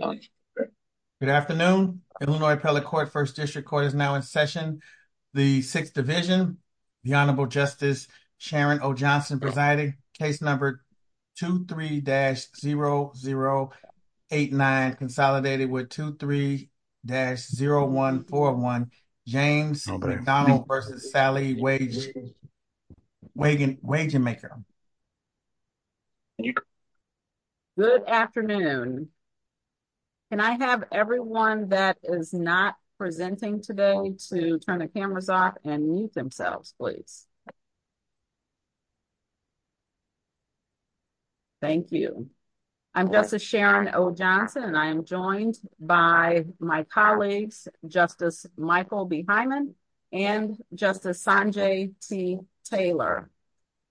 Good afternoon, Illinois Appellate Court, 1st District Court is now in session. The 6th Division, the Honorable Justice Sharon O. Johnson presiding. Case number 23-0089, consolidated with 23-0141, James McDonald v. Sally Wagenmaker. Good afternoon. Can I have everyone that is not presenting today to turn the cameras off and mute themselves, please? Thank you. I'm Justice Sharon O. Johnson and I am joined by my colleagues, Justice Michael B. Hyman and Justice Sanjay C. Taylor.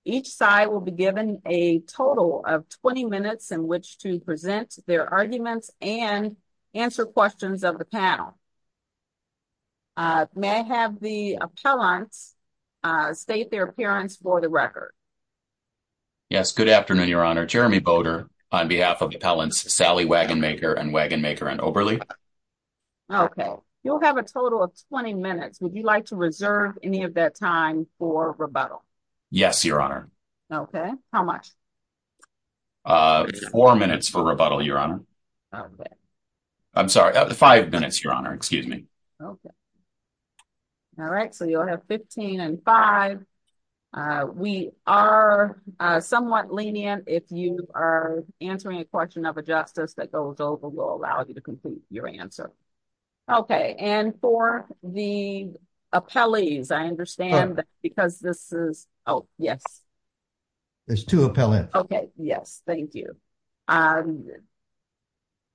Each side will be given a total of 20 minutes in which to present their arguments and answer questions of the panel. May I have the appellants state their appearance for the record? Yes, good afternoon, Your Honor. Jeremy Boter on behalf of the appellants Sally Wagenmaker and Wagenmaker and Oberle. Okay, you'll have a total of 20 minutes. Would you like to reserve any of that time for rebuttal? Yes, Your Honor. Okay, how much? Four minutes for rebuttal, Your Honor. I'm sorry, five minutes, Your Honor. Excuse me. Okay. All right, so you'll have 15 and five. We are somewhat lenient. If you are answering a question of a justice that goes over, we'll allow you to complete your answer. Okay, and for the appellees, I understand that because this is, oh, yes. There's two appellants. Okay, yes, thank you.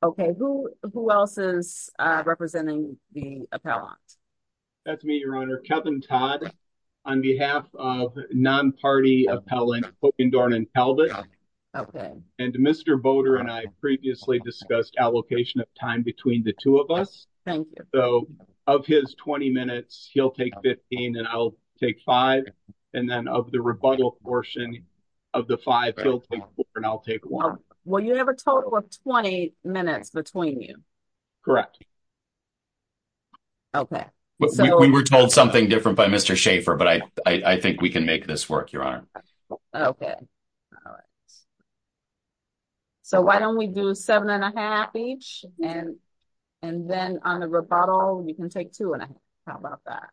Okay, who else is representing the appellants? That's me, Your Honor, Kevin Todd, on behalf of non-party appellant Hockendorn and Talbot. Okay. And Mr. Boter and I previously discussed allocation of time between the two of us. Thank you. So, of his 20 minutes, he'll take 15 and I'll take five. And then of the rebuttal portion of the five, he'll take four and I'll take one. Well, you have a total of 20 minutes between you. Correct. Okay. We were told something different by Mr. Schaefer, but I think we can make this work, Your Honor. Okay. All right. So, why don't we do seven and a half each and then on the rebuttal, you can take two and a half. How about that?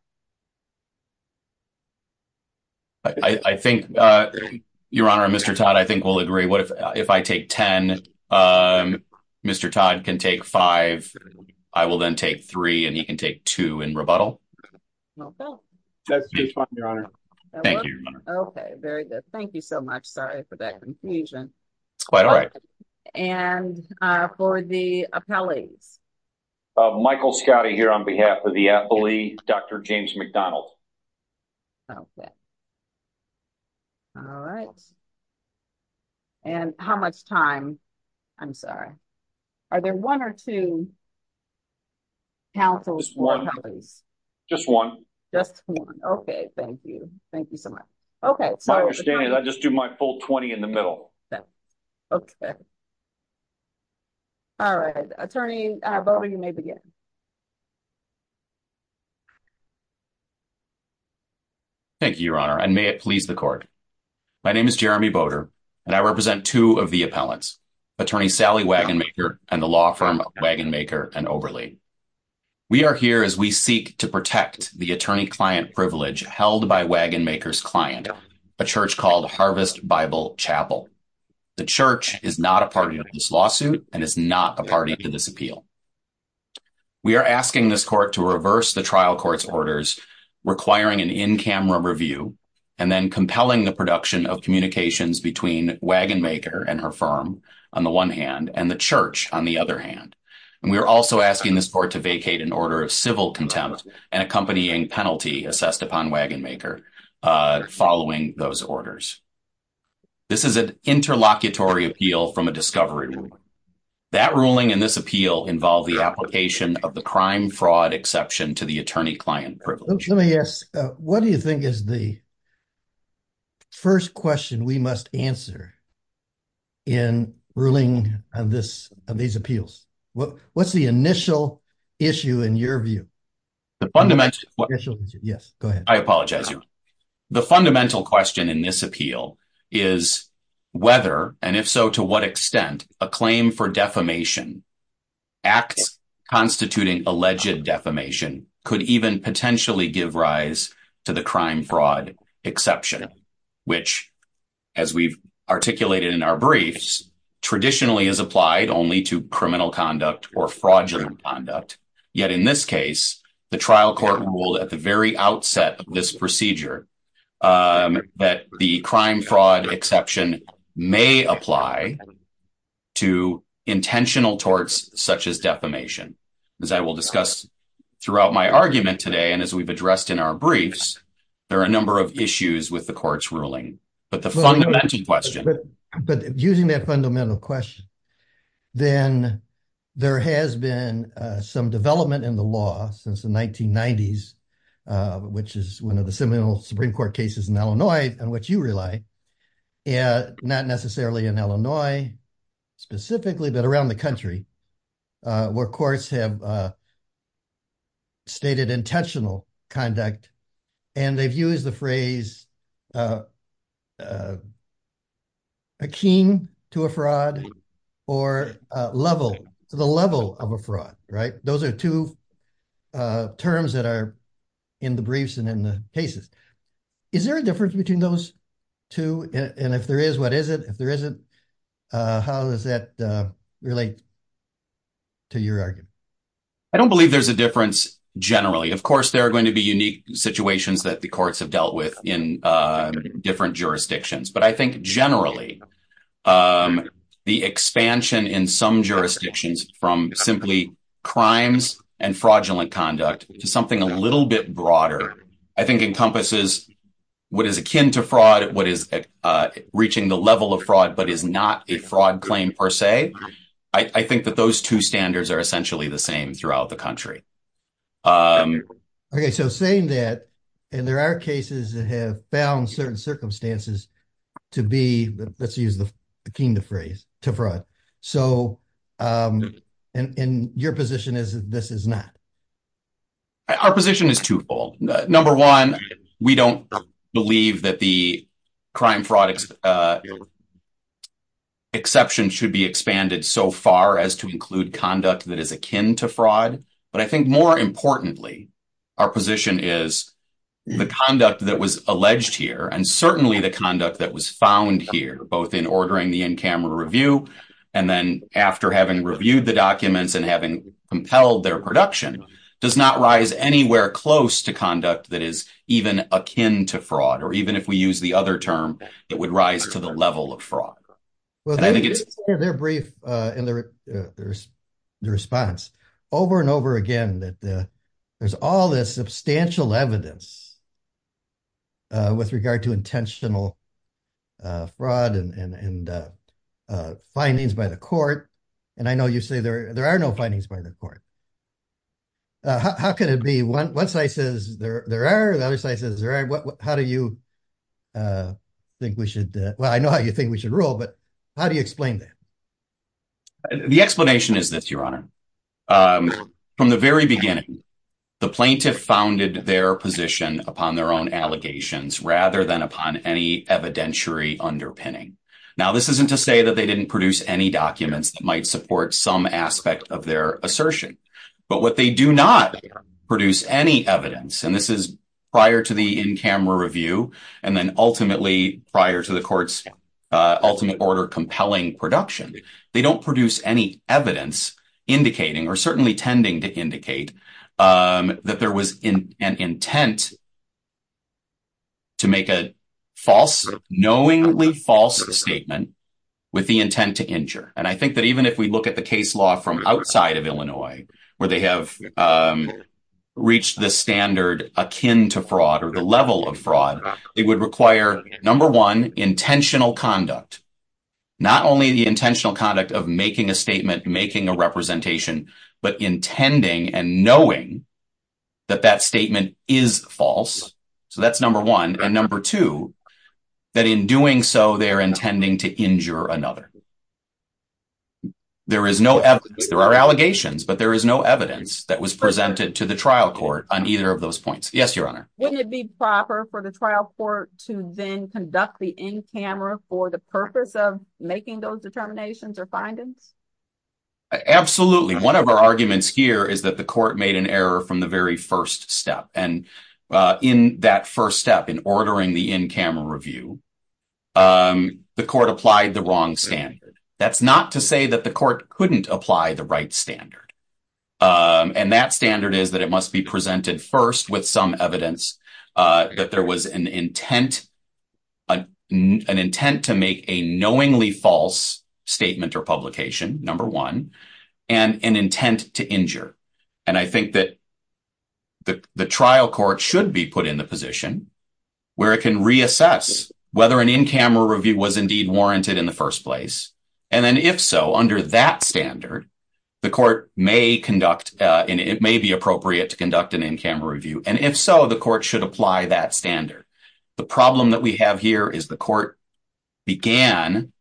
I think, Your Honor, Mr. Todd, I think we'll agree. If I take 10, Mr. Todd can take five. I will then take three and you can take two in rebuttal. Okay. That's fine, Your Honor. Thank you, Your Honor. Okay, very good. Thank you so much. Sorry for that confusion. It's quite all right. And for the appellees? Michael Scottie here on behalf of the athlete, Dr. James McDonald. Okay. All right. And how much time? I'm sorry. Are there one or two counsels? Just one. Just one. Just one. Okay, thank you. Thank you so much. Okay. My understanding is I just do my full 20 in the middle. Okay. Perfect. All right. Attorney Boder, you may begin. Thank you, Your Honor, and may it please the court. My name is Jeremy Boder, and I represent two of the appellants, Attorney Sally Wagonmaker and the law firm Wagonmaker and Oberle. We are here as we seek to protect the attorney-client privilege held by Wagonmaker's client, a church called Harvest Bible Chapel. The church is not a party to this lawsuit and is not a party to this appeal. We are asking this court to reverse the trial court's orders, requiring an in-camera review, and then compelling the production of communications between Wagonmaker and her firm on the one hand and the church on the other hand. And we are also asking this court to vacate an order of civil contempt and accompanying penalty assessed upon Wagonmaker following those orders. This is an interlocutory appeal from a discovery ruling. That ruling and this appeal involve the application of the crime-fraud exception to the attorney-client privilege. Let me ask, what do you think is the first question we must answer in ruling on these appeals? What's the initial issue in your view? Yes, go ahead. I apologize, Your Honor. The fundamental question in this appeal is whether, and if so to what extent, a claim for defamation, acts constituting alleged defamation, could even potentially give rise to the crime-fraud exception, which as we've articulated in our briefs, traditionally is applied only to criminal conduct or fraudulent conduct. Yet in this case, the trial court ruled at the very outset of this procedure that the crime-fraud exception may apply to intentional torts, such as defamation. As I will discuss throughout my argument today, and as we've addressed in our briefs, there are a number of issues with the court's ruling, but the fundamental question. But using that fundamental question, then there has been some development in the law since the 1990s, which is one of the seminal Supreme Court cases in Illinois, on which you rely. Not necessarily in Illinois specifically, but around the country, where courts have stated intentional conduct, and they've used the phrase akin to a fraud, or the level of a fraud, right? Those are two terms that are in the briefs and in the cases. Is there a difference between those two? And if there is, what is it? If there isn't, how does that relate to your argument? I don't believe there's a difference generally. Of course, there are going to be unique situations that the courts have dealt with in different jurisdictions. But I think generally, the expansion in some jurisdictions from simply crimes and fraudulent conduct to something a little bit broader, I think encompasses what is akin to fraud, what is reaching the level of fraud, but is not a fraud claim per se. I think that those two standards are essentially the same throughout the country. Okay, so saying that, and there are cases that have found certain circumstances to be, let's use the akin to phrase, to fraud. So, and your position is that this is not? Our position is twofold. Number one, we don't believe that the crime fraud exception should be expanded so far as to include conduct that is akin to fraud. But I think more importantly, our position is the conduct that was alleged here and certainly the conduct that was found here, both in ordering the in-camera review and then after having reviewed the documents and having compelled their production, does not rise anywhere close to conduct that is even akin to fraud. it would rise to the level of fraud. Well, they're brief in their response over and over again, that there's all this substantial evidence with regard to intentional fraud and findings by the court. And I know you say there are no findings by the court. How can it be? One side says there are, the other side says there aren't. How do you think we should, well, I know how you think we should rule, but how do you explain that? The explanation is this, Your Honor. From the very beginning, the plaintiff founded their position upon their own allegations rather than upon any evidentiary underpinning. Now, this isn't to say that they didn't produce any documents that might support some aspect of their assertion, but what they do not produce any evidence, and this is prior to the in-camera review and then ultimately prior to the court's ultimate order compelling production, they don't produce any evidence indicating or certainly tending to indicate that there was an intent to make a false, knowingly false statement with the intent to injure. And I think that even if we look at the case law from outside of Illinois, where they have reached the standard akin to fraud or the level of fraud, it would require, number one, intentional conduct. Not only the intentional conduct of making a statement, making a representation, but intending and knowing that that statement is false. So that's number one. And number two, that in doing so, they're intending to injure another. There is no evidence. There are allegations, but there is no evidence that was presented to the trial court on either of those points. Yes, Your Honor. Wouldn't it be proper for the trial court to then conduct the in-camera for the purpose of making those determinations or findings? Absolutely. One of our arguments here is that the court made an error from the very first step. And in that first step, in ordering the in-camera review, the court applied the wrong standard. That's not to say that the court couldn't apply the right standard. And that standard is that it must be presented first with some evidence that there was an intent, an intent to make a knowingly false statement or publication, number one, and an intent to injure. And I think that the trial court should be put in the position where it can reassess whether an in-camera review was indeed warranted in the first place. And then if so, under that standard, the court may conduct, and it may be appropriate to conduct an in-camera review. And if so, the court should apply that standard. The problem that we have here is the court began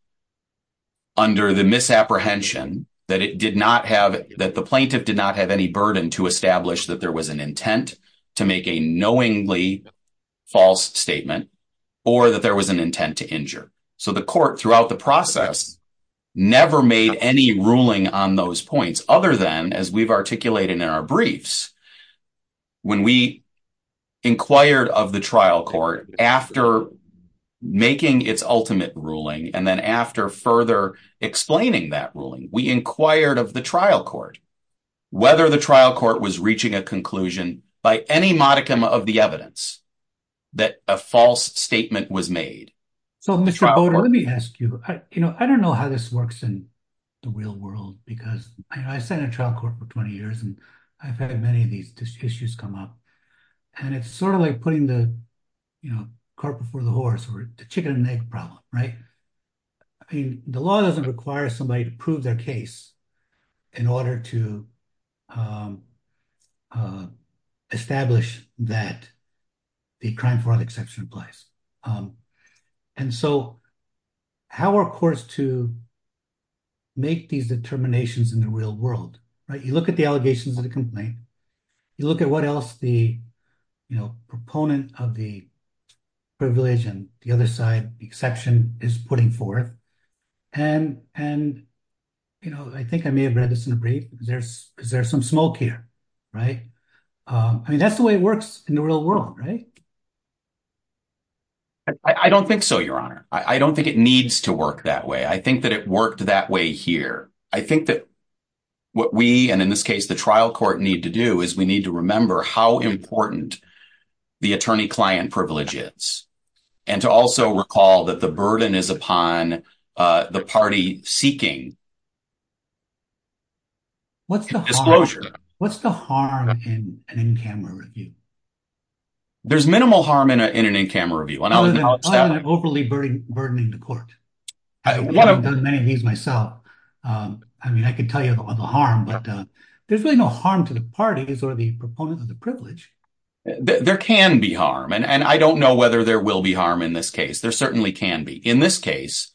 under the misapprehension that it did not have, that the plaintiff did not have any burden to establish that there was an intent to make a knowingly false statement or that there was an intent to injure. So the court throughout the process never made any ruling on those points other than, as we've articulated in our briefs, when we inquired of the trial court after making its ultimate ruling and then after further explaining that ruling, we inquired of the trial court whether the trial court was reaching a conclusion by any modicum of the evidence that a false statement was made. So Mr. Bowdoin, let me ask you, I don't know how this works in the real world because I've sat in a trial court for 20 years and I've had many of these issues come up and it's sort of like putting the cart before the horse or the chicken and egg problem, right? I mean, the law doesn't require somebody to prove their case in order to establish that the crime fraud exception applies. And so how are courts to make these determinations in the real world, right? You look at the allegations of the complaint, you look at what else the proponent of the privilege and the other side exception is putting forth and I think I may have read this in a brief, is there some smoke here, right? I mean, that's the way it works in the real world, right? I don't think so, Your Honor. I don't think it needs to work that way. I think that it worked that way here. I think that what we, and in this case, the trial court need to do is we need to remember how important the attorney-client privilege is and to also recall that the burden is upon the party seeking disclosure. What's the harm in an in-camera review? There's minimal harm in an in-camera review. Other than overly burdening the court. I've done many of these myself. I mean, I can tell you about the harm, but there's really no harm to the parties or the proponents of the privilege. There can be harm. And I don't know whether there will be harm in this case. There certainly can be. In this case,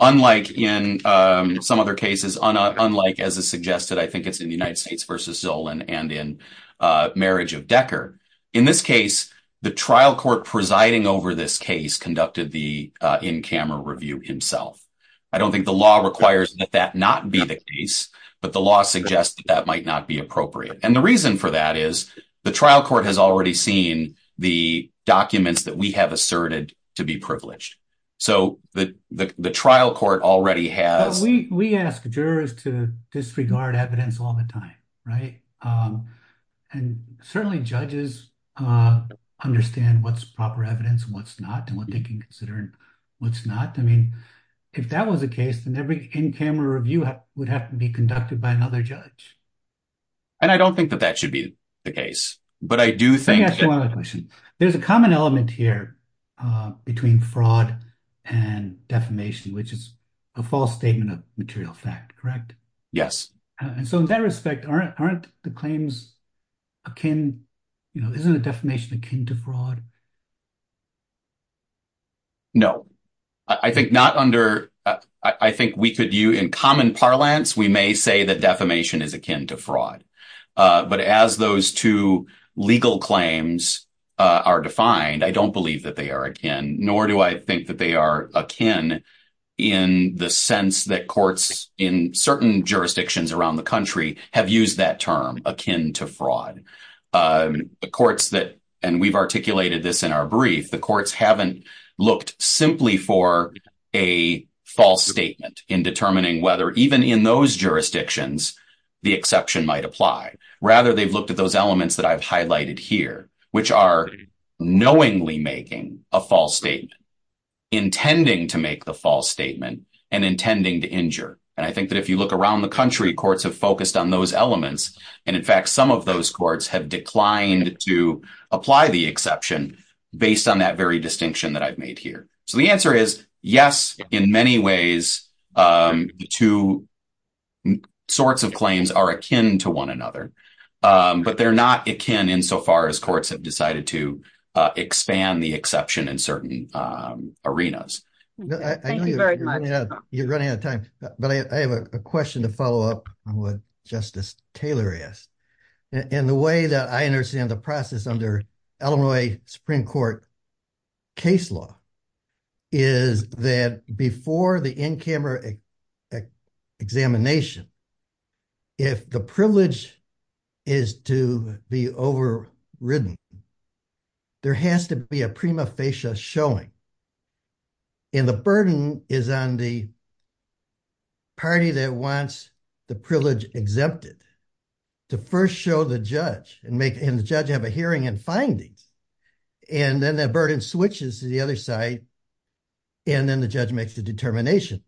unlike in some other cases, unlike as is suggested, I think it's in the United States versus Zola and in marriage of Decker. In this case, the trial court presiding over this case conducted the in-camera review himself. I don't think the law requires that that not be the case, but the law suggests that that might not be appropriate. And the reason for that is the trial court has already seen the documents that we have asserted to be privileged. So the trial court already has... We ask jurors to disregard evidence all the time, right? And certainly judges understand what's proper evidence and what's not and what they can consider and what's not. I mean, if that was the case, then every in-camera review would have to be conducted by another judge. And I don't think that that should be the case, but I do think... Let me ask you another question. There's a common element here between fraud and defamation, which is a false statement of material fact, correct? Yes. And so in that respect, aren't the claims akin... Isn't a defamation akin to fraud? No. I think not under... I think we could... In common parlance, we may say that defamation is akin to fraud. But as those two legal claims are defined, nor do I think that they are akin in the sense that courts in certain jurisdictions around the country have used that term akin to fraud. The courts that... And we've articulated this in our brief. The courts haven't looked simply for a false statement in determining whether even in those jurisdictions, the exception might apply. Rather, they've looked at those elements that I've highlighted here, which are knowingly making a false statement, intending to make the false statement, and intending to injure. And I think that if you look around the country, courts have focused on those elements. And in fact, some of those courts have declined to apply the exception based on that very distinction that I've made here. So the answer is yes, in many ways, the two sorts of claims are akin to one another, but they're not akin insofar as courts have decided to expand the exception in certain arenas. Thank you very much. You're running out of time, but I have a question to follow up on what Justice Taylor asked. And the way that I understand the process under Illinois Supreme Court case law is that before the in-camera examination, if the privilege is to be overridden, there has to be a prima facie showing. And the burden is on the party that wants the privilege exempted to first show the judge and the judge have a hearing and findings. And then that burden switches to the other side, and then the judge makes the determination.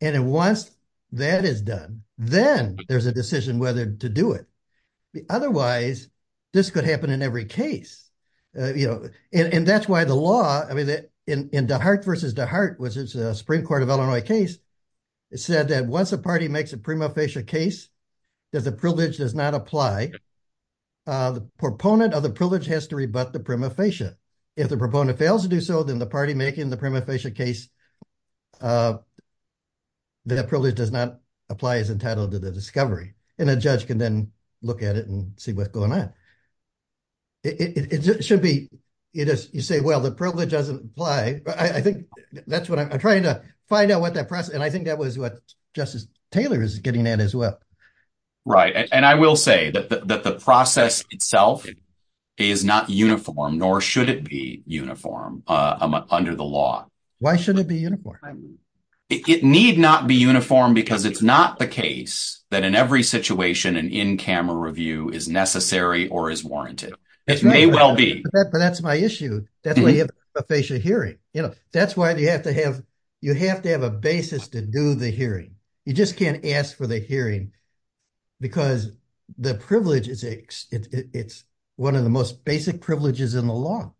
And then once that is done, then there's a decision whether to do it. Otherwise, this could happen in every case. And that's why the law, in DeHart versus DeHart, which is a Supreme Court of Illinois case, it said that once a party makes a prima facie case that the privilege does not apply, the proponent of the privilege has to rebut the prima facie. If the proponent fails to do so, then the party making the prima facie case that a privilege does not apply is entitled to the discovery. And a judge can then look at it and see what's going on. It should be, you say, well, the privilege doesn't apply. I think that's what I'm trying to find out what that process, and I think that was what Justice Taylor is getting at as well. Right. And I will say that the process itself is not uniform, nor should it be uniform under the law. Why should it be uniform? It need not be uniform because it's not the case that in every situation an in-camera review is necessary or is warranted. It may well be. But that's my issue. That's why you have a prima facie hearing. You know, that's why you have to have, you have to have a basis to do the hearing. You just can't ask for the hearing because the privilege is, it's one of the most basic privileges in the law.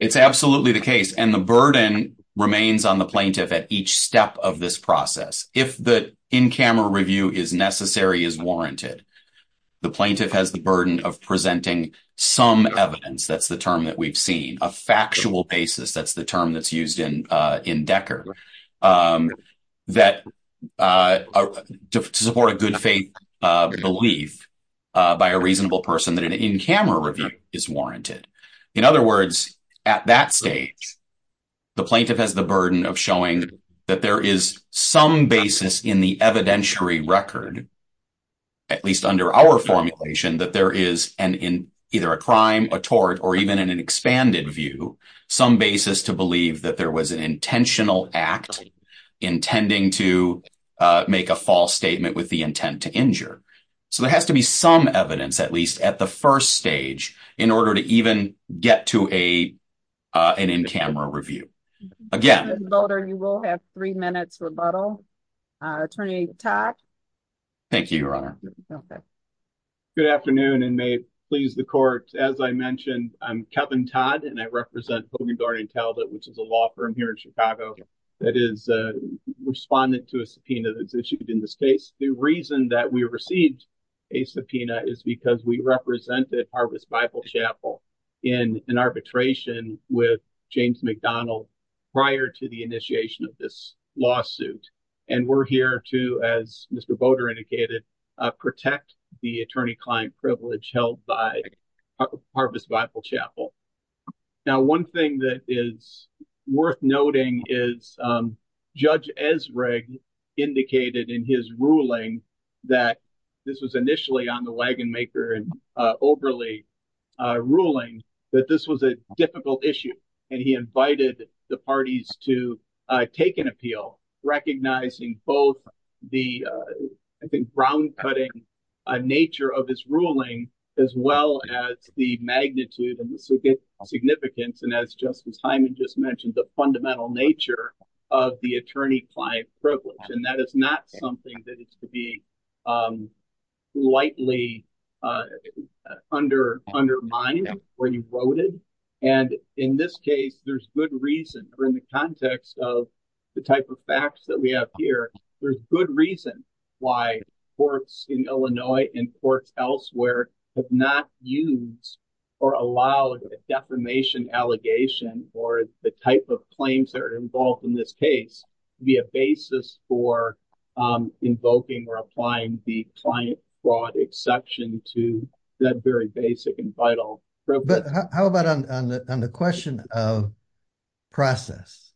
It's absolutely the case, and the burden remains on the plaintiff at each step of this process. If the in-camera review is necessary, is warranted, the plaintiff has the burden of presenting some evidence, that's the term that we've seen, a factual basis, that's the term that's used in Decker, that to support a good faith belief by a reasonable person, that an in-camera review is warranted. In other words, at that stage, the plaintiff has the burden of showing that there is some basis in the evidentiary record, at least under our formulation, that there is an, in either a crime, a tort, or even in an expanded view, some basis to believe that there was an intentional act intending to make a false statement with the intent to injure. So there has to be some evidence, at least at the first stage, in order to even get to a, an in-camera review. Again. Mr. Boulder, you will have three minutes rebuttal. Attorney Todd. Thank you, Your Honor. Okay. Good afternoon, and may it please the court. As I mentioned, I'm Kevin Todd, and I represent Hogan, Gardner, and Talbot, which is a law firm here in Chicago that is a respondent to a subpoena that's issued in this case. The reason that we received a subpoena is because we represented Harvest Bible Chapel in an arbitration with James McDonald prior to the initiation of this lawsuit. And we're here to, as Mr. Boulder indicated, protect the attorney-client privilege held by Harvest Bible Chapel. Now, one thing that is worth noting is Judge Ezrig indicated in his ruling that this was initially on the wagon maker and overly ruling that this was a difficult issue, and he invited the parties to take an appeal, recognizing both the, I think, ground-cutting nature of his ruling as well as the magnitude and the significance, and as Justice Hyman just mentioned, the fundamental nature of the attorney-client privilege. And that is not something that is to be lightly undermined or eroded. And in this case, there's good reason, or in the context of the type of facts that we have here, there's good reason why courts in Illinois and courts elsewhere have not used or allowed a defamation allegation or the type of claims that are involved in this case to be a basis for invoking or applying the client fraud exception to that very basic and vital problem. But how about on the question of process,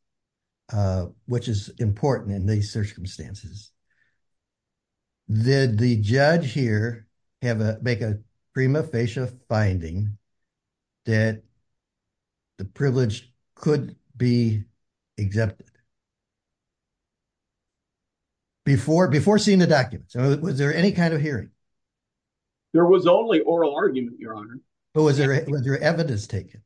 which is important in these circumstances, did the judge here make a prima facie finding that the privilege could be exempted before seeing the documents? Was there any kind of hearing? There was only oral argument, Your Honor. Was there evidence taken?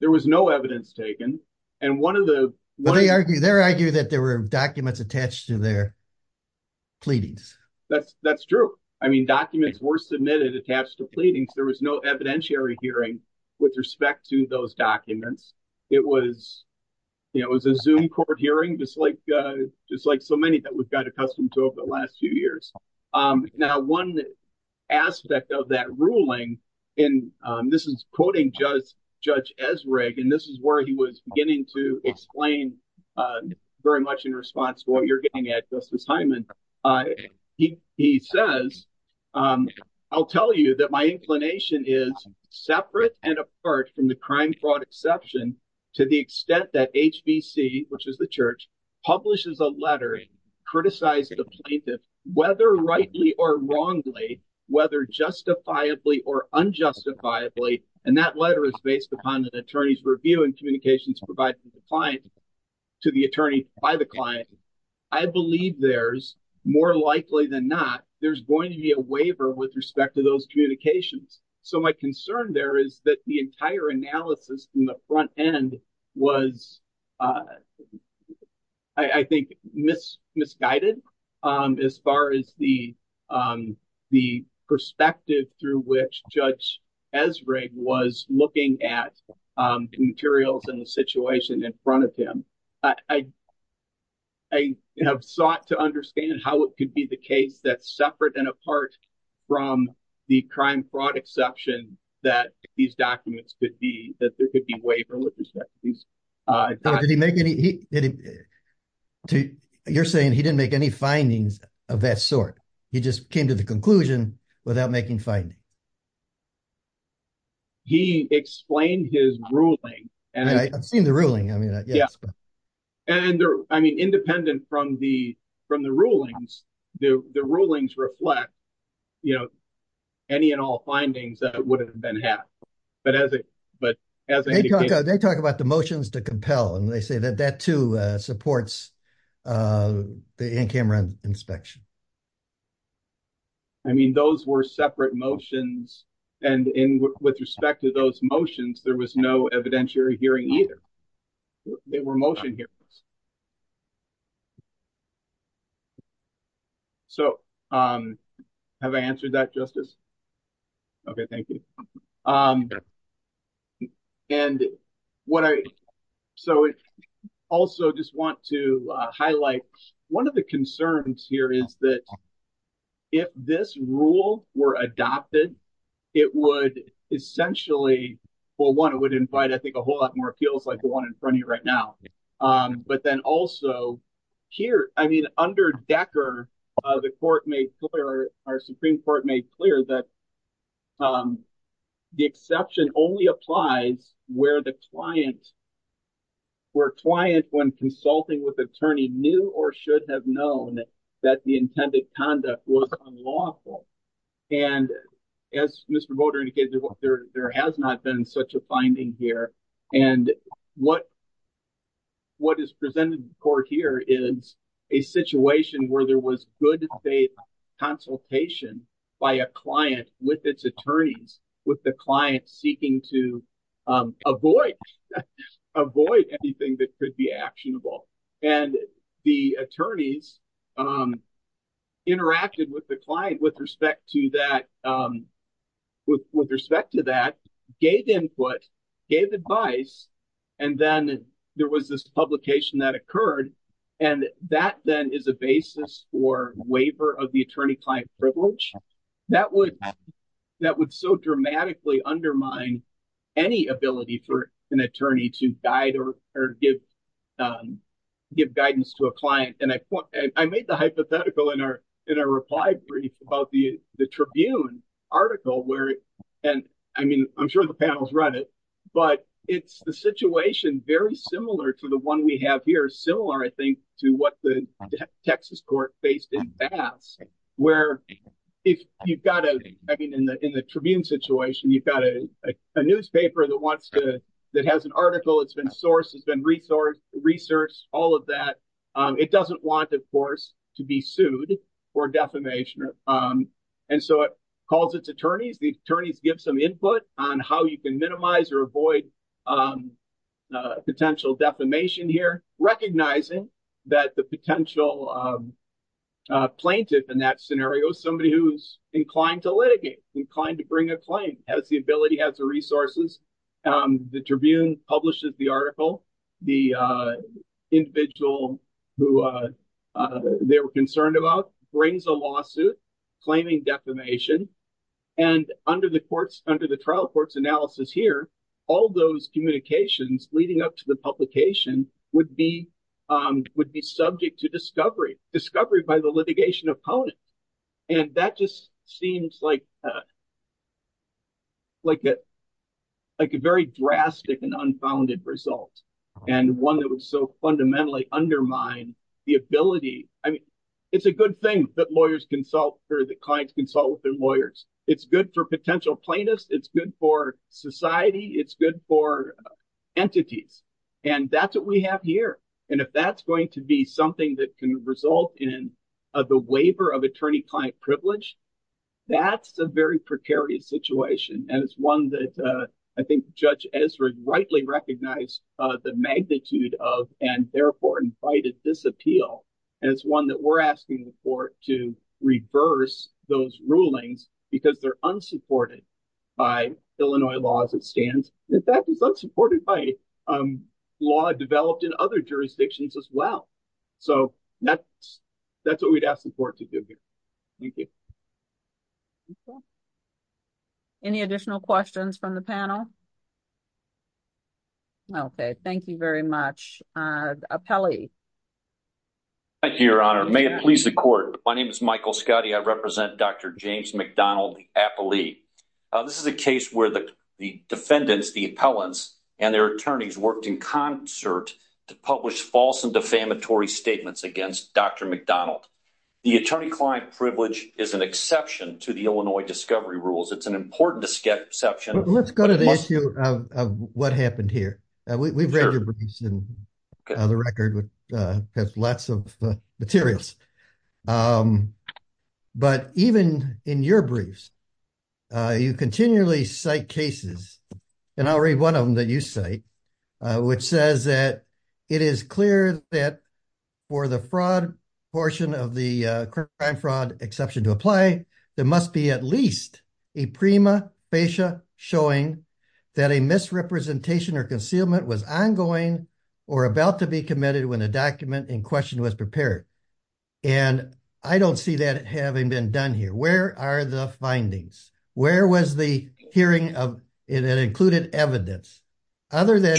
There was no evidence taken, and one of the- But they argue that there were documents attached to their pleadings. That's true. I mean, documents were submitted attached to pleadings. There was no evidentiary hearing with respect to those documents. It was a Zoom court hearing, just like so many that we've got accustomed to over the last few years. Now, one aspect of that ruling, and this is quoting Judge Ezrig, and this is where he was beginning to explain very much in response to what you're getting at, Justice Hyman. He says, I'll tell you that my inclination is separate and apart from the crime fraud exception to the extent that HBC, which is the church, publishes a letter, criticizes the plaintiff, whether rightly or wrongly, whether justifiably or unjustifiably, and that letter is based upon an attorney's review and communications provided to the client, to the attorney by the client. I believe there's, more likely than not, there's going to be a waiver with respect to those communications. So my concern there is that the entire analysis from the front end was, I think, misguided as far as the perspective through which Judge Ezrig was looking at the materials and the situation in front of him. I have sought to understand how it could be the case that's separate and apart from the crime fraud exception that these documents could be, that there could be a waiver with respect to these documents. You're saying he didn't make any findings of that sort. He just came to the conclusion without making findings. He explained his ruling. I've seen the ruling. Independent from the rulings, the rulings reflect any and all findings that would have been had. They talk about the motions to compel and they say that that too supports the in-camera inspection. I mean, those were separate motions and with respect to those motions, there was no evidentiary hearing either. They were motion hearings. Have I answered that, Justice? Okay, thank you. I also just want to highlight one of the concerns here is that if this rule were adopted, for one, it would invite, I think, a whole lot more appeals like the one in front of you right now. But then also here, I mean, under Decker, the court made clear, our Supreme Court made clear that the exception only applies where the client, where a client when consulting with attorney knew or should have known that the intended conduct was unlawful. And as Mr. Boter indicated, there has not been such a finding here. And what is presented in court here is a situation where there was good faith consultation by a client with its attorneys, with the client seeking to avoid anything that could be actionable. And the attorneys interacted with the client with respect to that, with respect to that, gave input, gave advice, and then there was this publication that occurred. And that then is a basis for waiver of the attorney-client privilege. That would so dramatically undermine any ability for an attorney to guide or give guidance to a client. And I made the hypothetical in our reply brief about the Tribune article where, and I mean, I'm sure the panel's read it, but it's the situation very similar to the one we have here, similar, I think, to what the Texas court faced in Bass, where if you've got, I mean, in the Tribune situation, you've got a newspaper that wants to, that has an article, it's been sourced, it's been resourced, all of that. It doesn't want, of course, to be sued for defamation. And so it calls its attorneys, the attorneys give some input on how you can minimize or avoid potential defamation here, recognizing that the potential plaintiff in that scenario is somebody who's inclined to litigate, inclined to bring a claim, has the ability, has the resources. The Tribune publishes the article. The individual who they were concerned about brings a lawsuit claiming defamation. And under the trial court's analysis here, all those communications leading up to the publication would be subject to discovery, discovery by the litigation opponent. And that just seems like a very drastic and unfounded result, and one that would so fundamentally undermine the ability. I mean, it's a good thing that lawyers consult, or that clients consult with their lawyers. It's good for potential plaintiffs. It's good for society. It's good for entities. And that's what we have here. And if that's going to be something that can result in the waiver of attorney-client privilege, that's a very precarious situation. And it's one that I think Judge Ezra rightly recognized the magnitude of, and therefore invited this appeal. And it's one that we're asking the court to reverse those rulings because they're unsupported by Illinois law as it stands. In fact, it's unsupported by law developed in other jurisdictions as well. So that's what we'd ask the court to do here. Thank you. Any additional questions from the panel? Okay, thank you very much. Appellee. Thank you, Your Honor. May it please the court. My name is Michael Scotti. I represent Dr. James McDonald, the appellee. This is a case where the defendants, the appellants, and their attorneys worked in concert to publish false and defamatory statements against Dr. McDonald. The attorney-client privilege is an exception to the Illinois discovery rules. It's an important exception. Let's go to the issue of what happened here. We've read your briefs and the record has lots of materials. But even in your briefs, you continually cite cases. And I'll read one of them that you cite, which says that it is clear that for the fraud portion of the crime fraud exception to apply, there must be at least a prima facie showing that a misrepresentation or concealment was ongoing or about to be committed when a document in question was prepared. And I don't see that having been done here. Where are the findings? Where was the hearing of it included evidence? Other than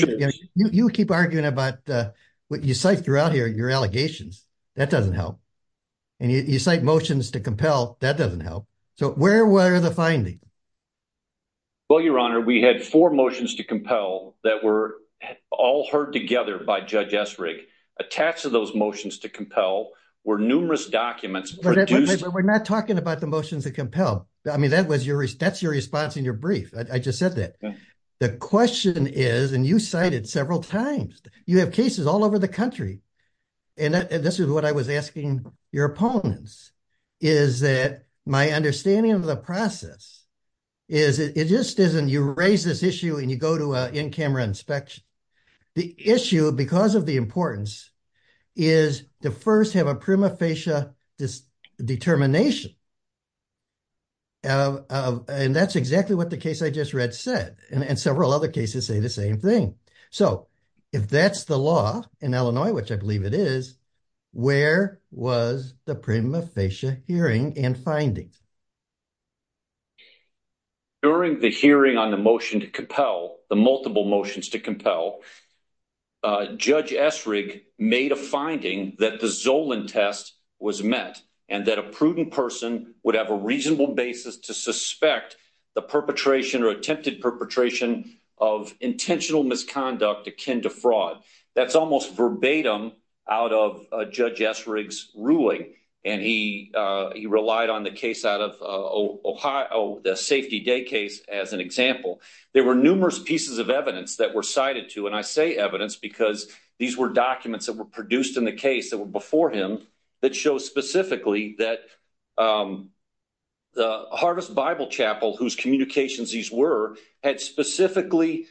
you keep arguing about what you cite throughout here, your allegations. That doesn't help. And you cite motions to compel. That doesn't help. So where were the findings? Well, Your Honor, we had four motions to compel that were all heard together by Judge Essrig. Attached to those motions to compel were numerous documents. We're not talking about the motions that compel. I mean, that's your response in your brief. I just said that. The question is, and you cited several times, you have cases all over the country. And this is what I was asking your opponents, is that my understanding of the process is it just isn't, you raise this issue and you go to an in-camera inspection. The issue, because of the importance, is to first have a prima facie determination. And that's exactly what the case I just read said. And several other cases say the same thing. So if that's the law in Illinois, which I believe it is, where was the prima facie hearing and finding? During the hearing on the motion to compel, the multiple motions to compel, Judge Essrig made a finding that the Zolan test was met and that a prudent person would have a reasonable basis to suspect the perpetration or attempted perpetration of intentional misconduct akin to fraud. That's almost verbatim out of Judge Essrig's ruling. And he relied on the case out of Ohio, the Safety Day case as an example. There were numerous pieces of evidence that were cited to, and I say evidence because these were documents that were produced in the case that were before him that show specifically that the Harvest Bible Chapel, whose communications these were, had specifically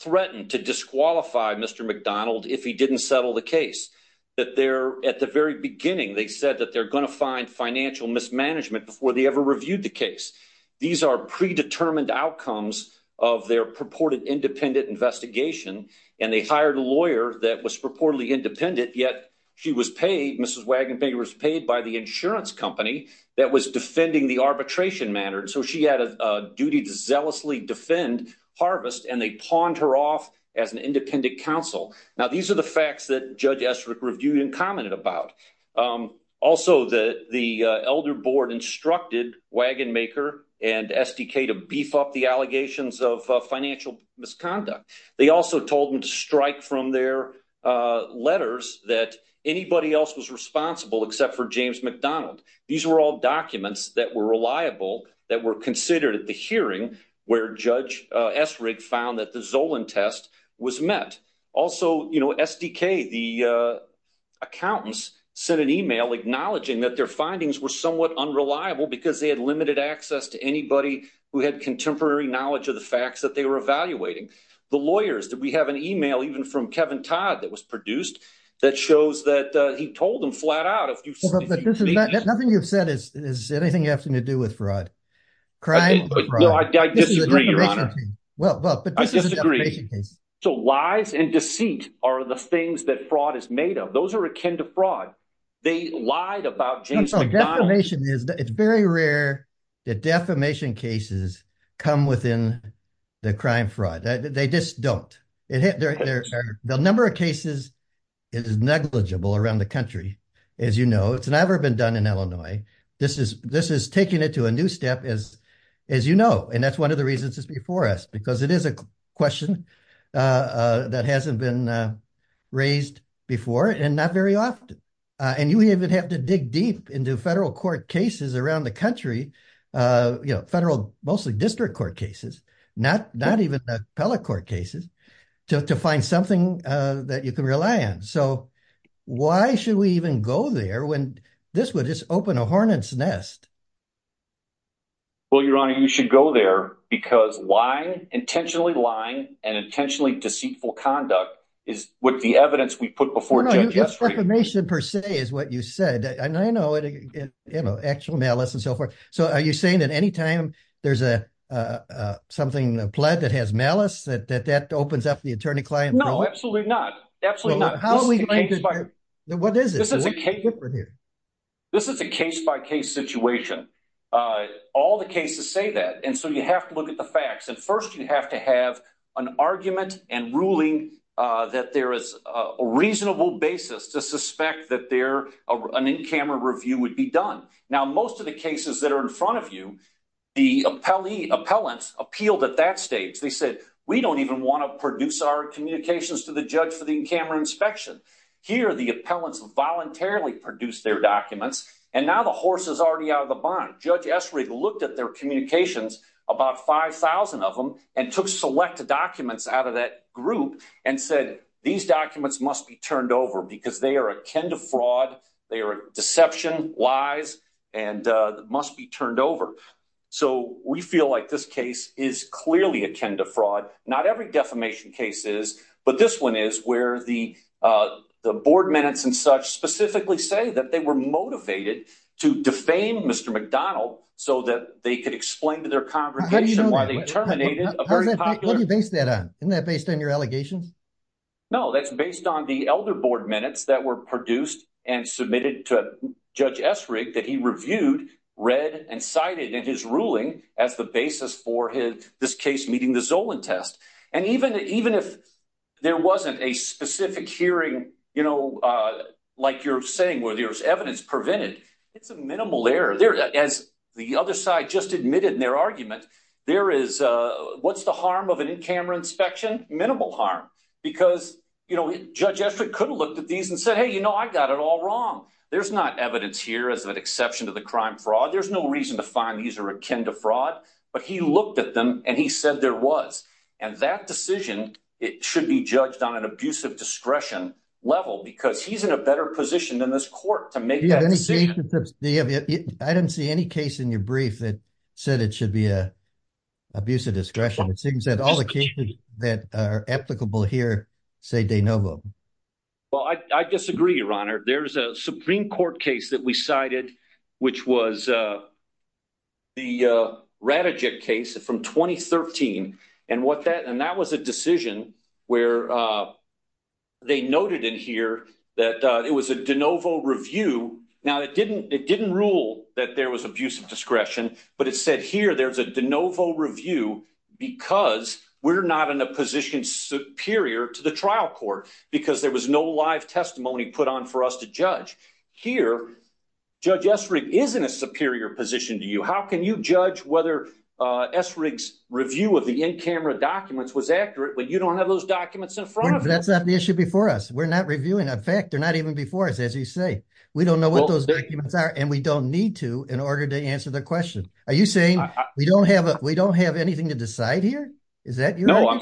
threatened to disqualify Mr. McDonald if he didn't settle the case. That they're, at the very beginning, they said that they're gonna find financial mismanagement before they ever reviewed the case. These are predetermined outcomes of their purported independent investigation, and they hired a lawyer that was purportedly independent, yet she was paid, Mrs. Wagenbaker was paid by the insurance company that was defending the arbitration matter. And so she had a duty to zealously defend Harvest, and they pawned her off as an independent counsel. Now, these are the facts that Judge Essrig reviewed and commented about. Also, the elder board instructed Wagenbaker and SDK to beef up the allegations of financial misconduct. They also told them to strike from their letters that anybody else was responsible except for James McDonald. These were all documents that were reliable, that were considered at the hearing where Judge Essrig found that the Zolan test was met. Also, you know, SDK, the accountants, sent an email acknowledging that their findings were somewhat unreliable because they had limited access to anybody who had contemporary knowledge of the facts that they were evaluating. The lawyers, we have an email even from Kevin Todd that was produced that shows that he told them flat out... Nothing you've said is anything you have to do with fraud. I disagree, Your Honor. I disagree. So lies and deceit are the things that fraud is made of. Those are akin to fraud. They lied about James McDonald. It's very rare that defamation cases come within the crime fraud. They just don't. The number of cases is negligible around the country, as you know. It's never been done in Illinois. This is taking it to a new step, as you know, and that's one of the reasons it's before us because it is a question that hasn't been raised before and not very often. And you even have to dig deep into federal court cases around the country, you know, federal, mostly district court cases, not even the appellate court cases, to find something that you can rely on. So why should we even go there when this would just open a hornet's nest? Well, Your Honor, you should go there because lying, intentionally lying, and intentionally deceitful conduct is what the evidence we put before judges... No, no, defamation per se is what you said. And I know, you know, actual malice and so forth. So are you saying that any time there's something, a plot that has malice, that that opens up the attorney-client problem? No, absolutely not, absolutely not. How are we going to... What is it? This is a case-by-case situation. All the cases say that, and so you have to look at the facts. And first you have to have an argument and ruling that there is a reasonable basis to suspect that an in-camera review would be done. Now, most of the cases that are in front of you, the appellants appealed at that stage. They said, we don't even want to produce our communications to the judge for the in-camera inspection. Here, the appellants voluntarily produced their documents, and now the horse is already out of the barn. Judge Essrig looked at their communications, about 5,000 of them, and took select documents out of that group and said, these documents must be turned over because they are akin to fraud, they are deception, lies, and must be turned over. So we feel like this case is clearly akin to fraud. Not every defamation case is, but this one is where the board minutes and such specifically say that they were motivated to defame Mr. McDonald so that they could explain to their congregation why they terminated a very popular... What do you base that on? Isn't that based on your allegations? No, that's based on the elder board minutes that were produced and submitted to Judge Essrig that he reviewed, read, and cited in his ruling as the basis for this case meeting the Zolan test. And even if there wasn't a specific hearing, you know, like you're saying, where there was evidence prevented, it's a minimal error. As the other side just admitted in their argument, there is... What's the harm of an in-camera inspection? Minimal harm. Because, you know, Judge Essrig could have looked at these and said, hey, you know, I got it all wrong. There's not evidence here as an exception to the crime fraud. There's no reason to find these are akin to fraud. But he looked at them and he said there was. And that decision, it should be judged on an abusive discretion level because he's in a better position than this court to make that decision. I didn't see any case in your brief that said it should be an abusive discretion. say de novo. Well, I disagree, Your Honor. There's a Supreme Court case that we cited, which was the Radejick case from 2013. And that was a decision where they noted in here that it was a de novo review. Now, it didn't rule that there was abusive discretion, but it said here there's a de novo review because we're not in a position superior to the trial court because there was no live testimony put on for us to judge. Here, Judge Essrig is in a superior position to you. How can you judge whether Essrig's review of the in-camera documents was accurate when you don't have those documents in front of you? That's not the issue before us. We're not reviewing a fact. They're not even before us, as you say. We don't know what those documents are, and we don't need to in order to answer the question. Are you saying we don't have anything to decide here? Is that your idea? No, I'm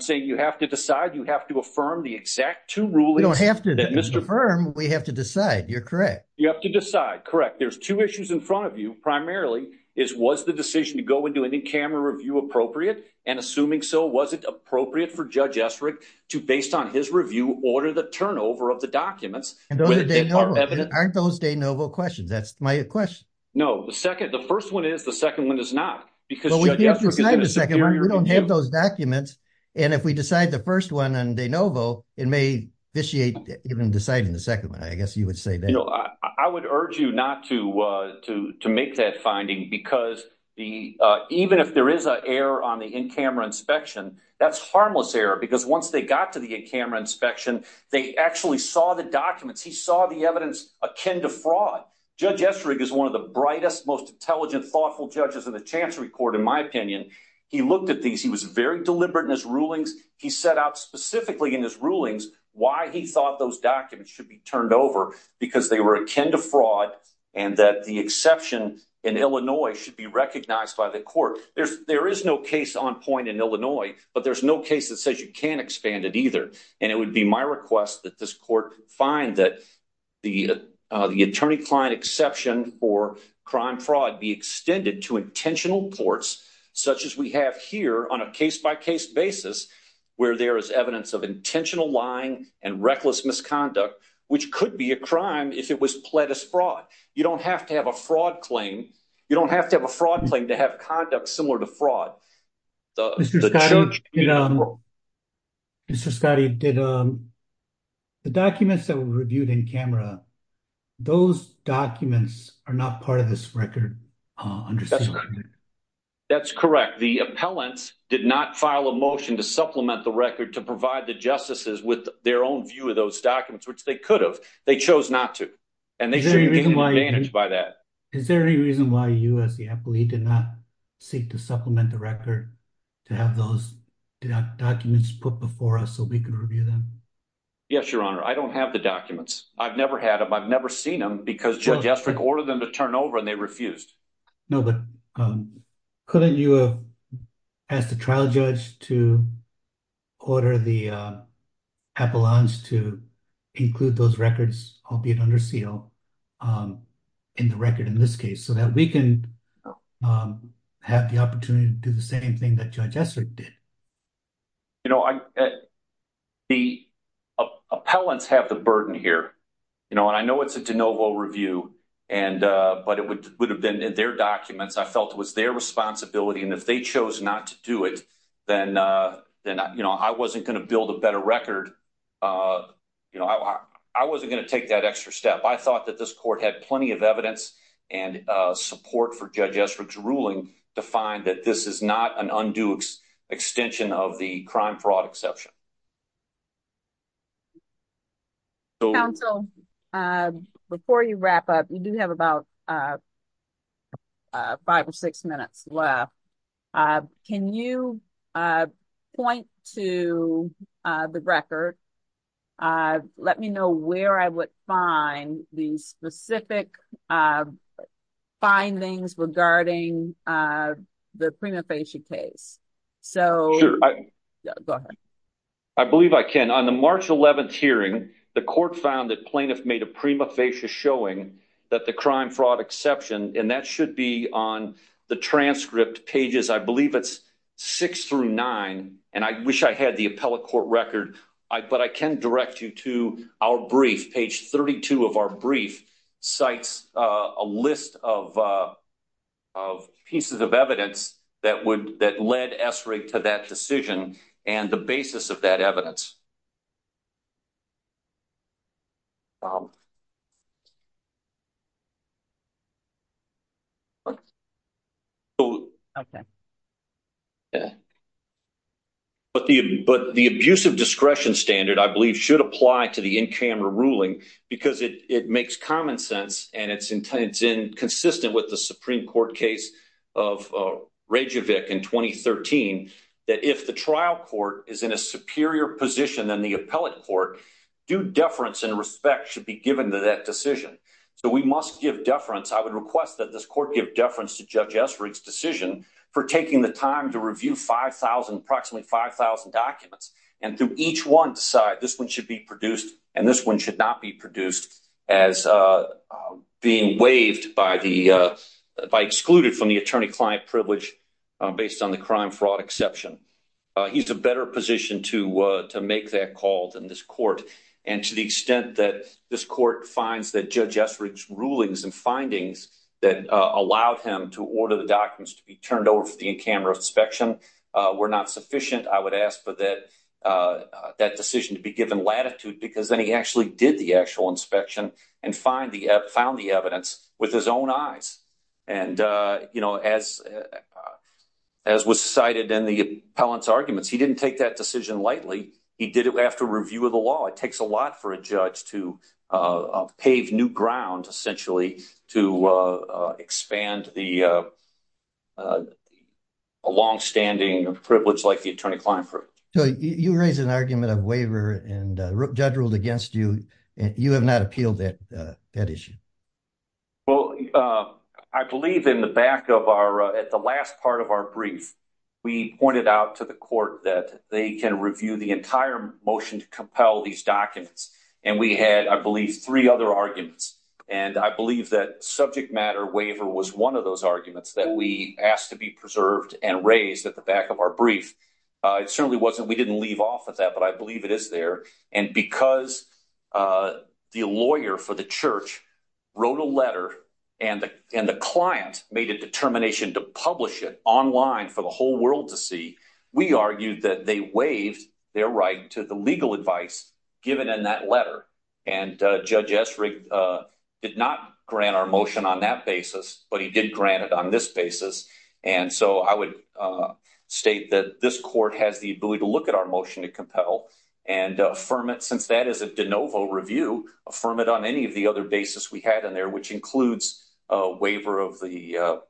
saying you have to decide. You have to affirm the exact two rulings. We don't have to affirm. We have to decide. You're correct. You have to decide. Correct. There's two issues in front of you. Primarily, is was the decision to go and do an in-camera review appropriate? And assuming so, was it appropriate for Judge Essrig to, based on his review, order the turnover of the documents? And those are de novo. Aren't those de novo questions? That's my question. No. The first one is. The second one is not. Well, we can't decide the second one. We don't have those documents. And if we decide the first one on de novo, it may vitiate even deciding the second one. I guess you would say that. I would urge you not to make that finding, because even if there is an error on the in-camera inspection, that's harmless error, because once they got to the in-camera inspection, they actually saw the documents. He saw the evidence akin to fraud. Judge Essrig is one of the brightest, most intelligent, thoughtful judges in the Chancery Court, in my opinion. He looked at these. He was very deliberate in his rulings. He set out specifically in his rulings why he thought those documents should be turned over, because they were akin to fraud and that the exception in Illinois should be recognized by the court. There is no case on point in Illinois, but there's no case that says you can't expand it either. And it would be my request that this court find that the attorney-client exception for crime fraud be extended to intentional courts, such as we have here on a case-by-case basis, where there is evidence of intentional lying and reckless misconduct, which could be a crime if it was pled as fraud. You don't have to have a fraud claim. You don't have to have a fraud claim to have conduct similar to fraud. Mr. Scottie, the documents that were reviewed in-camera, those documents are not part of this record. That's correct. The appellants did not file a motion to supplement the record to provide the justices with their own view of those documents, which they could have. They chose not to. And they shouldn't be advantaged by that. Is there any reason why you, as the appellee, did not seek to supplement the record to have those documents put before us so we could review them? Yes, Your Honor. I don't have the documents. I've never had them. I've never seen them, because Judge Estrick ordered them to turn over, and they refused. No, but couldn't you have asked the trial judge to order the appellants to include those records, albeit under seal, in the record in this case so that we can have the opportunity to do the same thing that Judge Estrick did? You know, the appellants have the burden here. You know, and I know it's a de novo review, but it would have been in their documents. I felt it was their responsibility, and if they chose not to do it, then I wasn't going to build a better record. I wasn't going to take that extra step. I thought that this court had plenty of evidence and support for Judge Estrick's ruling to find that this is not an undue extension of the crime fraud exception. Counsel, before you wrap up, you do have about five or six minutes left. Can you point to the record? Let me know where I would find the specific findings regarding the prima facie case. Go ahead. I believe I can. On the March 11th hearing, the court found that plaintiffs made a prima facie showing that the crime fraud exception, and that should be on the transcript pages. I believe it's six through nine, and I wish I had the appellate court record, but I can direct you to our brief. Page 32 of our brief cites a list of pieces of evidence that led Estrick to that decision and the basis of that evidence. But the abusive discretion standard, I believe, should apply to the in-camera ruling because it makes common sense, and it's consistent with the Supreme Court case of Rejovic in 2013, that if the trial court is in a superior position than the appellate court, due deference and respect should be given to that decision. So we must give deference. I would request that this court give deference to Judge Estrick's decision for taking the time to review approximately 5,000 documents and to each one decide this one should be produced and this one should not be produced as being waived by the, by excluded from the attorney-client privilege based on the crime-fraud exception. He's a better position to make that call than this court, and to the extent that this court finds that Judge Estrick's rulings and findings that allowed him to order the documents to be turned over for the in-camera inspection were not sufficient, I would ask for that, that decision to be given latitude because then he actually did the actual inspection and found the evidence with his own eyes. And, you know, as was cited in the appellant's arguments, he didn't take that decision lightly. He did it after review of the law. It takes a lot for a judge to pave new ground, essentially, to expand the longstanding privilege like the attorney-client privilege. So you raised an argument of waiver and the judge ruled against you, and you have not appealed that issue. Well, I believe in the back of our, at the last part of our brief, we pointed out to the court that they can review the entire motion to compel these documents, and we had, I believe, three other arguments. And I believe that subject matter waiver was one of those arguments that we asked to be preserved and raised at the back of our brief. It certainly wasn't, we didn't leave off of that, but I believe it is there. And because the lawyer for the church wrote a letter and the client made a determination to publish it online for the whole world to see, we argued that they waived their right to the legal advice given in that letter. And Judge Estrig did not grant our motion on that basis, but he did grant it on this basis. And so I would state that this court has the ability to look at our motion to compel and affirm it, since that is a de novo review, affirm it on any of the other basis we had in there, which includes a waiver of the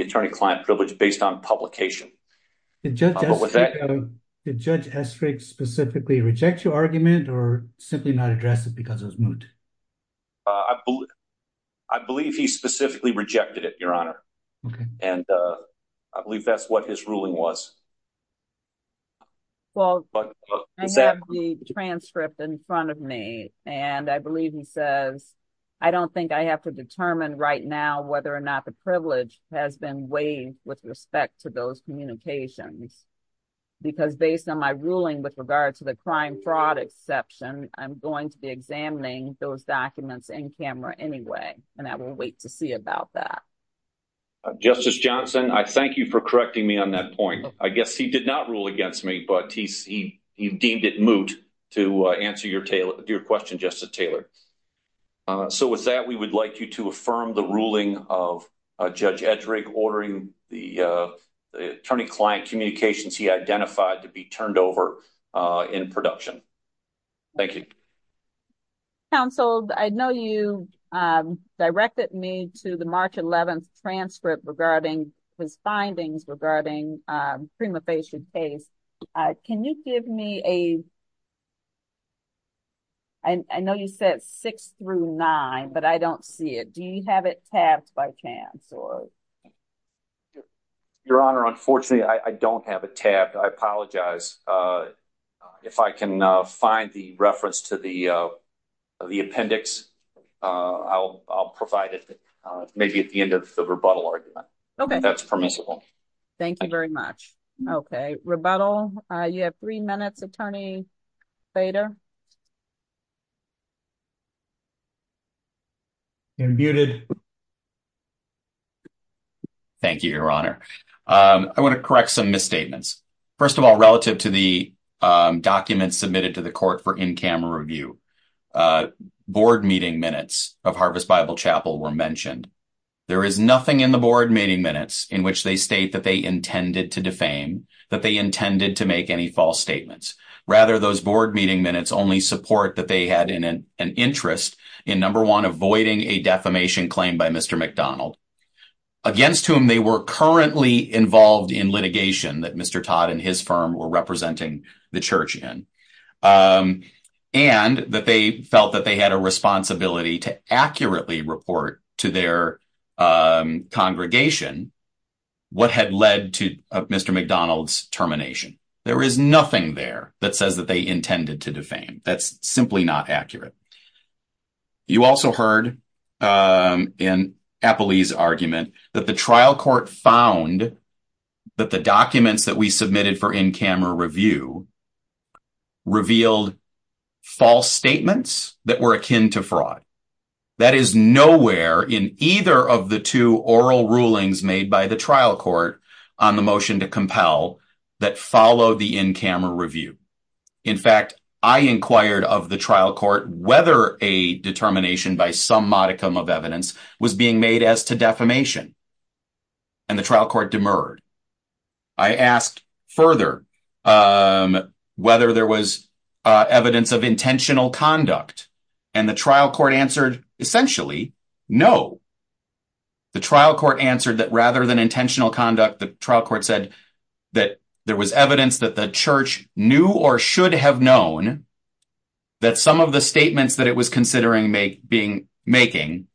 attorney-client privilege based on publication. Did Judge Estrig specifically reject your argument or simply not address it because it was moot? I believe he specifically rejected it, Your Honor. Okay. And I believe that's what his ruling was. Well, I have the transcript in front of me and I believe he says, I don't think I have to determine right now whether or not the privilege has been waived with respect to those communications because based on my ruling with regard to the crime fraud exception, I'm going to be examining those documents in camera anyway, and I will wait to see about that. Justice Johnson, I thank you for correcting me on that point. I guess he did not rule against me, but he deemed it moot to answer your question, Justice Taylor. So with that, we would like you to affirm the ruling of Judge Estrig ordering the attorney-client communications he identified to be turned over in production. Thank you. Counsel, I know you directed me to the March 11th transcript regarding his findings regarding prima facie case. Can you give me a, I know you said six through nine, but I don't see it. Do you have it tabbed by chance or? Your Honor, unfortunately I don't have a tab. I apologize. If I can find the reference to the appendix, I'll provide it maybe at the end of the rebuttal argument. Okay. That's permissible. Thank you very much. Okay. Rebuttal. You have three minutes. Attorney Bader. Muted. Thank you, Your Honor. I want to correct some misstatements. First of all, relative to the documents submitted to the court for in-camera review, board meeting minutes of Harvest Bible Chapel were mentioned. There is nothing in the board meeting minutes in which they state that they intended to defame, that they intended to make any false statements. Rather, those board meeting minutes only support that they had an interest in number one, avoiding a defamation claim by Mr. McDonald against whom they were currently involved in litigation that Mr. Todd and his firm were representing the church in, and that they felt that they had a responsibility to accurately report to their congregation what had led to Mr. McDonald's termination. There is nothing there that says that they intended to defame. That's simply not accurate. You also heard in Appley's argument that the trial court found that the documents submitted for in-camera review revealed false statements that were akin to fraud. That is nowhere in either of the two oral rulings made by the trial court on the motion to compel that follow the in-camera review. In fact, I inquired of the trial court whether a determination by some modicum of evidence was being made as to defamation, and the trial court demurred. I asked further whether there was evidence of intentional conduct, and the trial court answered essentially no. The trial court answered that rather than intentional conduct, the trial court said that there was evidence that the church knew or should have known that some of the statements that it was considering making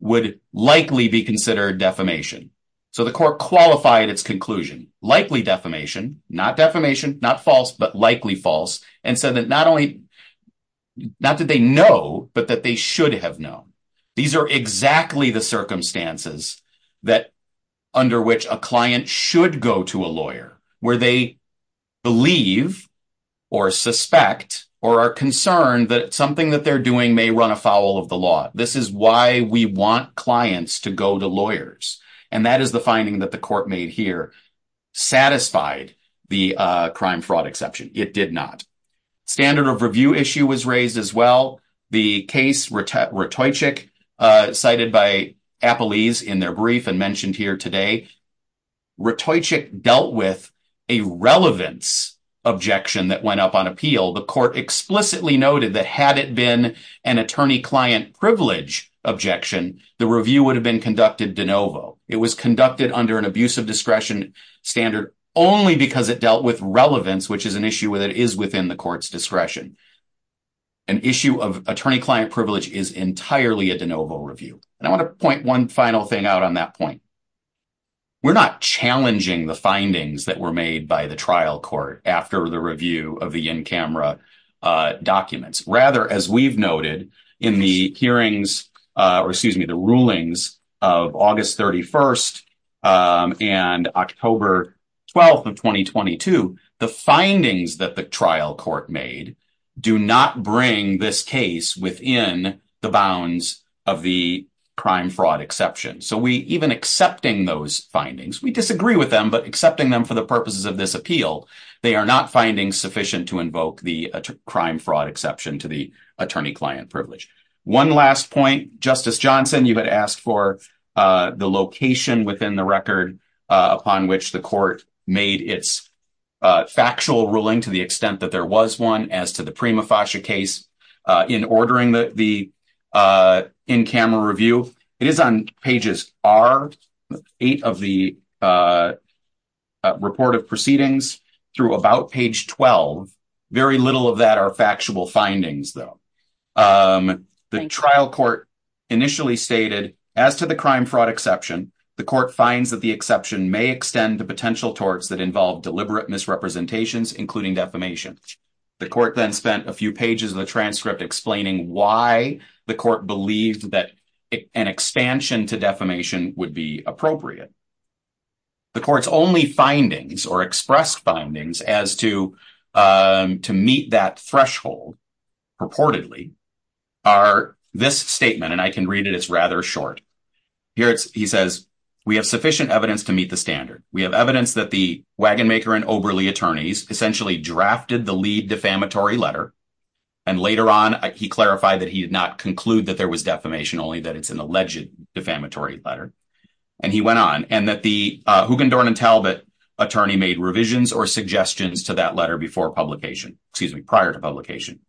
would likely be considered defamation. So the court qualified its conclusion, likely defamation, not defamation, not false, but likely false, and said that not only did they know, but that they should have known. These are exactly the circumstances under which a client should go to a lawyer where they believe or suspect or are concerned that something that they're doing may run afoul of the law. This is why we want clients to go to lawyers. And that is the finding that the court made here. Satisfied the crime-fraud exception. It did not. Standard of review issue was raised as well. The case Ratojcik, cited by Appelese in their brief and mentioned here today, Ratojcik dealt with a relevance objection that went up on appeal. The court explicitly noted that had it been an attorney-client privilege objection, the review would have been conducted de novo. It was conducted under an abuse of discretion standard only because it dealt with relevance, which is an issue that is within the court's discretion. An issue of attorney-client privilege is entirely a de novo review. And I want to point one final thing out on that point. We're not challenging the findings that were made by the trial court after the review of the in-camera documents. Rather, as we've noted, in the hearings, or excuse me, the rulings of August 31st and October 12th of 2022, the findings that the trial court made do not bring this case within the bounds of the crime-fraud exception. So we even accepting those findings, we disagree with them, but accepting them for the purposes of this appeal, they are not finding sufficient to invoke the crime-fraud exception to the attorney-client privilege. One last point. Justice Johnson, you had asked for the location within the record upon which the court made its factual ruling to the extent that there was one as to the Prima Fascia case in ordering the in-camera review. It is on pages R, eight of the report of proceedings, through about page 12. Very little of that are factual findings, though. The trial court initially stated, as to the crime-fraud exception, the court finds that the exception may extend to potential torts that involve deliberate misrepresentations, including defamation. The court then spent a few pages of the transcript explaining why the court believed that an expansion to defamation would be appropriate. The court's only findings or expressed findings as to meet that threshold purportedly are this statement, and I can read it. It's rather short. Here he says, we have sufficient evidence to meet the standard. We have evidence that the Wagonmaker and Oberle attorneys essentially drafted the lead defamatory letter, and later on, he clarified that he did not conclude that there was defamation, only that it's an alleged defamatory letter. And he went on, and that the Huggendorn and Talbott attorney made revisions or suggestions to that letter before publication, excuse me, prior to publication.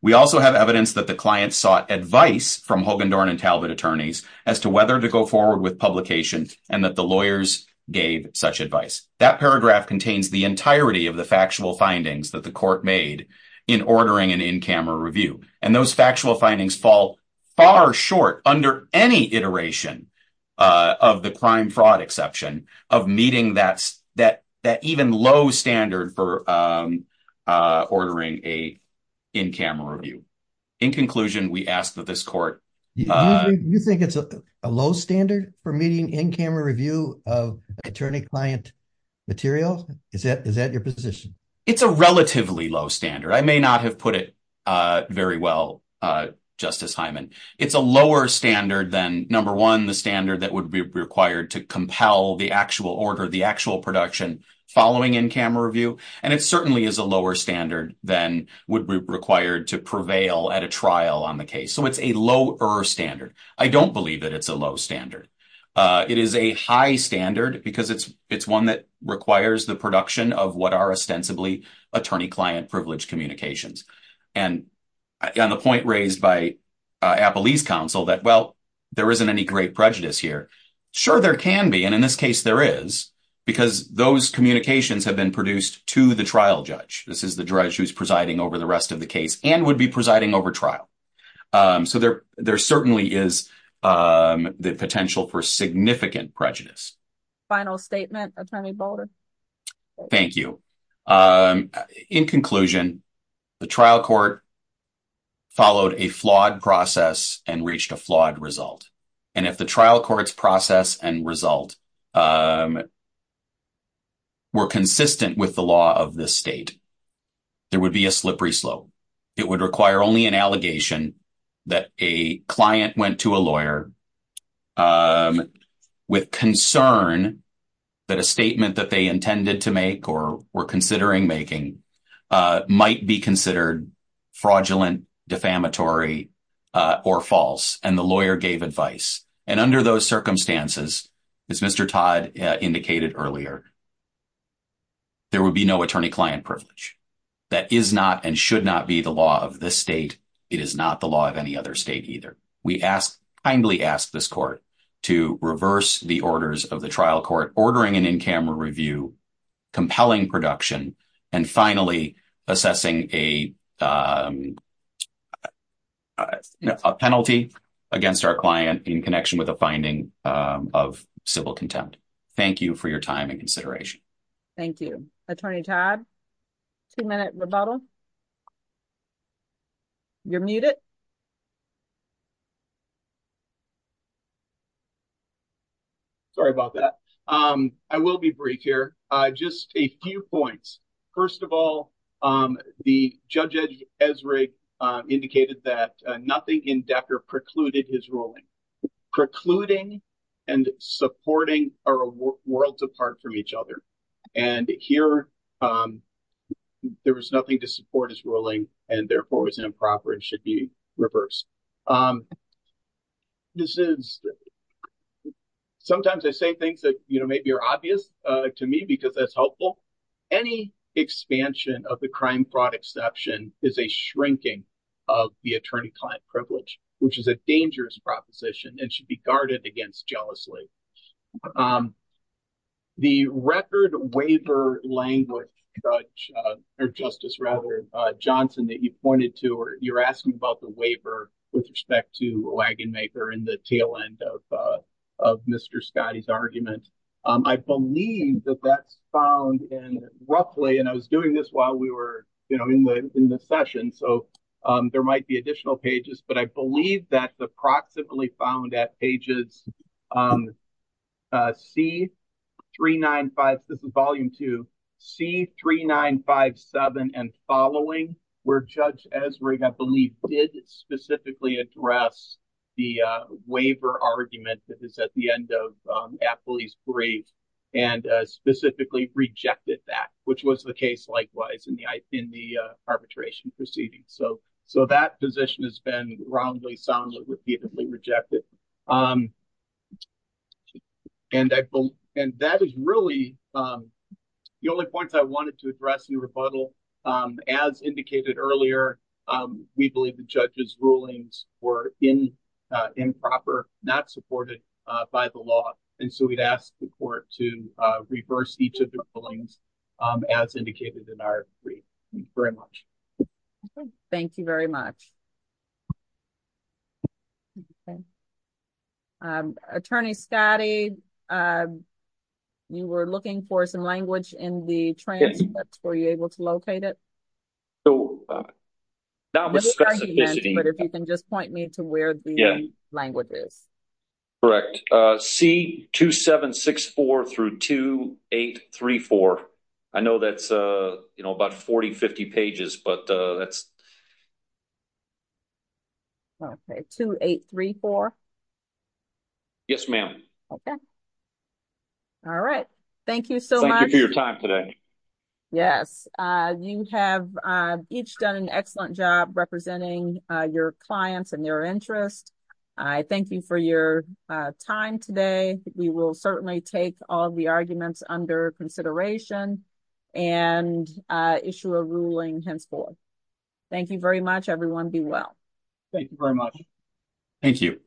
We also have evidence that the client sought advice from Huggendorn and Talbott attorneys as to whether to go forward with publications, and that the lawyers gave such advice. That paragraph contains the entirety of the factual findings that the court made in ordering an in-camera review, and those factual findings fall far short under any iteration of the crime-fraud exception of meeting that even low standard for ordering a in-camera review. In conclusion, we ask that this court… You think it's a low standard for meeting in-camera review of attorney-client material? Is that your position? It's a relatively low standard. I may not have put it very well, Justice Hyman. It's a lower standard than, number one, the standard that would be required to compel the actual order, the actual production following in-camera review, and it certainly is a lower standard than would be required to prevail at a trial on the case. So it's a lower standard. I don't believe that it's a low standard. It is a high standard because it's one that requires the production of what are ostensibly attorney-client privilege communications. And on the point raised by Appelee's counsel that, well, there isn't any great prejudice here, sure there can be, and in this case there is, because those communications have been produced to the trial judge. This is the judge who's presiding over the rest of the case and would be presiding over trial. So there certainly is the potential for significant prejudice. Final statement, Attorney Boulder. Thank you. In conclusion, the trial court followed a flawed process and reached a flawed result. And if the trial court's process and result were consistent with the law of this state, there would be a slippery slope. It would require only an allegation that a client went to a lawyer with concern that a statement that they intended to make or were considering making might be considered fraudulent, defamatory, or false, and the lawyer gave advice. And under those circumstances, as Mr. Todd indicated earlier, there would be no attorney-client privilege. That is not and should not be the law of this state. It is not the law of any other state either. We kindly ask this court to reverse the orders of the trial court, ordering an in-camera review, compelling production, and finally assessing a penalty against our client in connection with a finding of civil contempt. Thank you for your time and consideration. Thank you. Attorney Todd, two-minute rebuttal. You're muted. Sorry about that. I will be brief here. Just a few points. First of all, Judge Ezra indicated that nothing in Decker precluded his ruling. Precluding and supporting are worlds apart from each other. And here, there was nothing to support his ruling, and therefore it was improper and should be reversed. Sometimes I say things that maybe are obvious to me because that's helpful. Any expansion of the crime fraud exception is a shrinking of the attorney-client privilege, which is a dangerous proposition and should be guarded against jealously. The record waiver language, Justice Johnson, that you pointed to where you're asking about the waiver with respect to Wagonmaker and the tail end of Mr. Scottie's argument, I believe that that's found in roughly, and I was doing this while we were in the session, so there might be additional pages, but I believe that's approximately found at pages C395, this is volume two, C3957 and following, where Judge Ezra, I believe, did specifically address the waiver argument that is at the end of Appley's brief and specifically rejected that, which was the case likewise in the arbitration proceeding. So that position has been wrongly, soundly, repeatedly rejected. The only points I wanted to address in rebuttal, as indicated earlier, we believe the judge's rulings were improper, not supported by the law, and so we'd ask the court to reverse each of the rulings as indicated in our brief. Thank you very much. Attorney Scottie, you were looking for some language in the transcript. Were you able to locate it? Now I'm asking if you can just point me to where the language is. Correct. C2764 through 2834. I know that's about 40, 50 pages, but that's... Okay, 2834. Yes, ma'am. Okay. All right. Thank you so much. Thank you for your time today. Yes. You have each done an excellent job representing your clients and their interests. I thank you for your time today. We will certainly take all the arguments under consideration and issue a ruling henceforth. Thank you very much, everyone. Be well. Thank you very much. Thank you.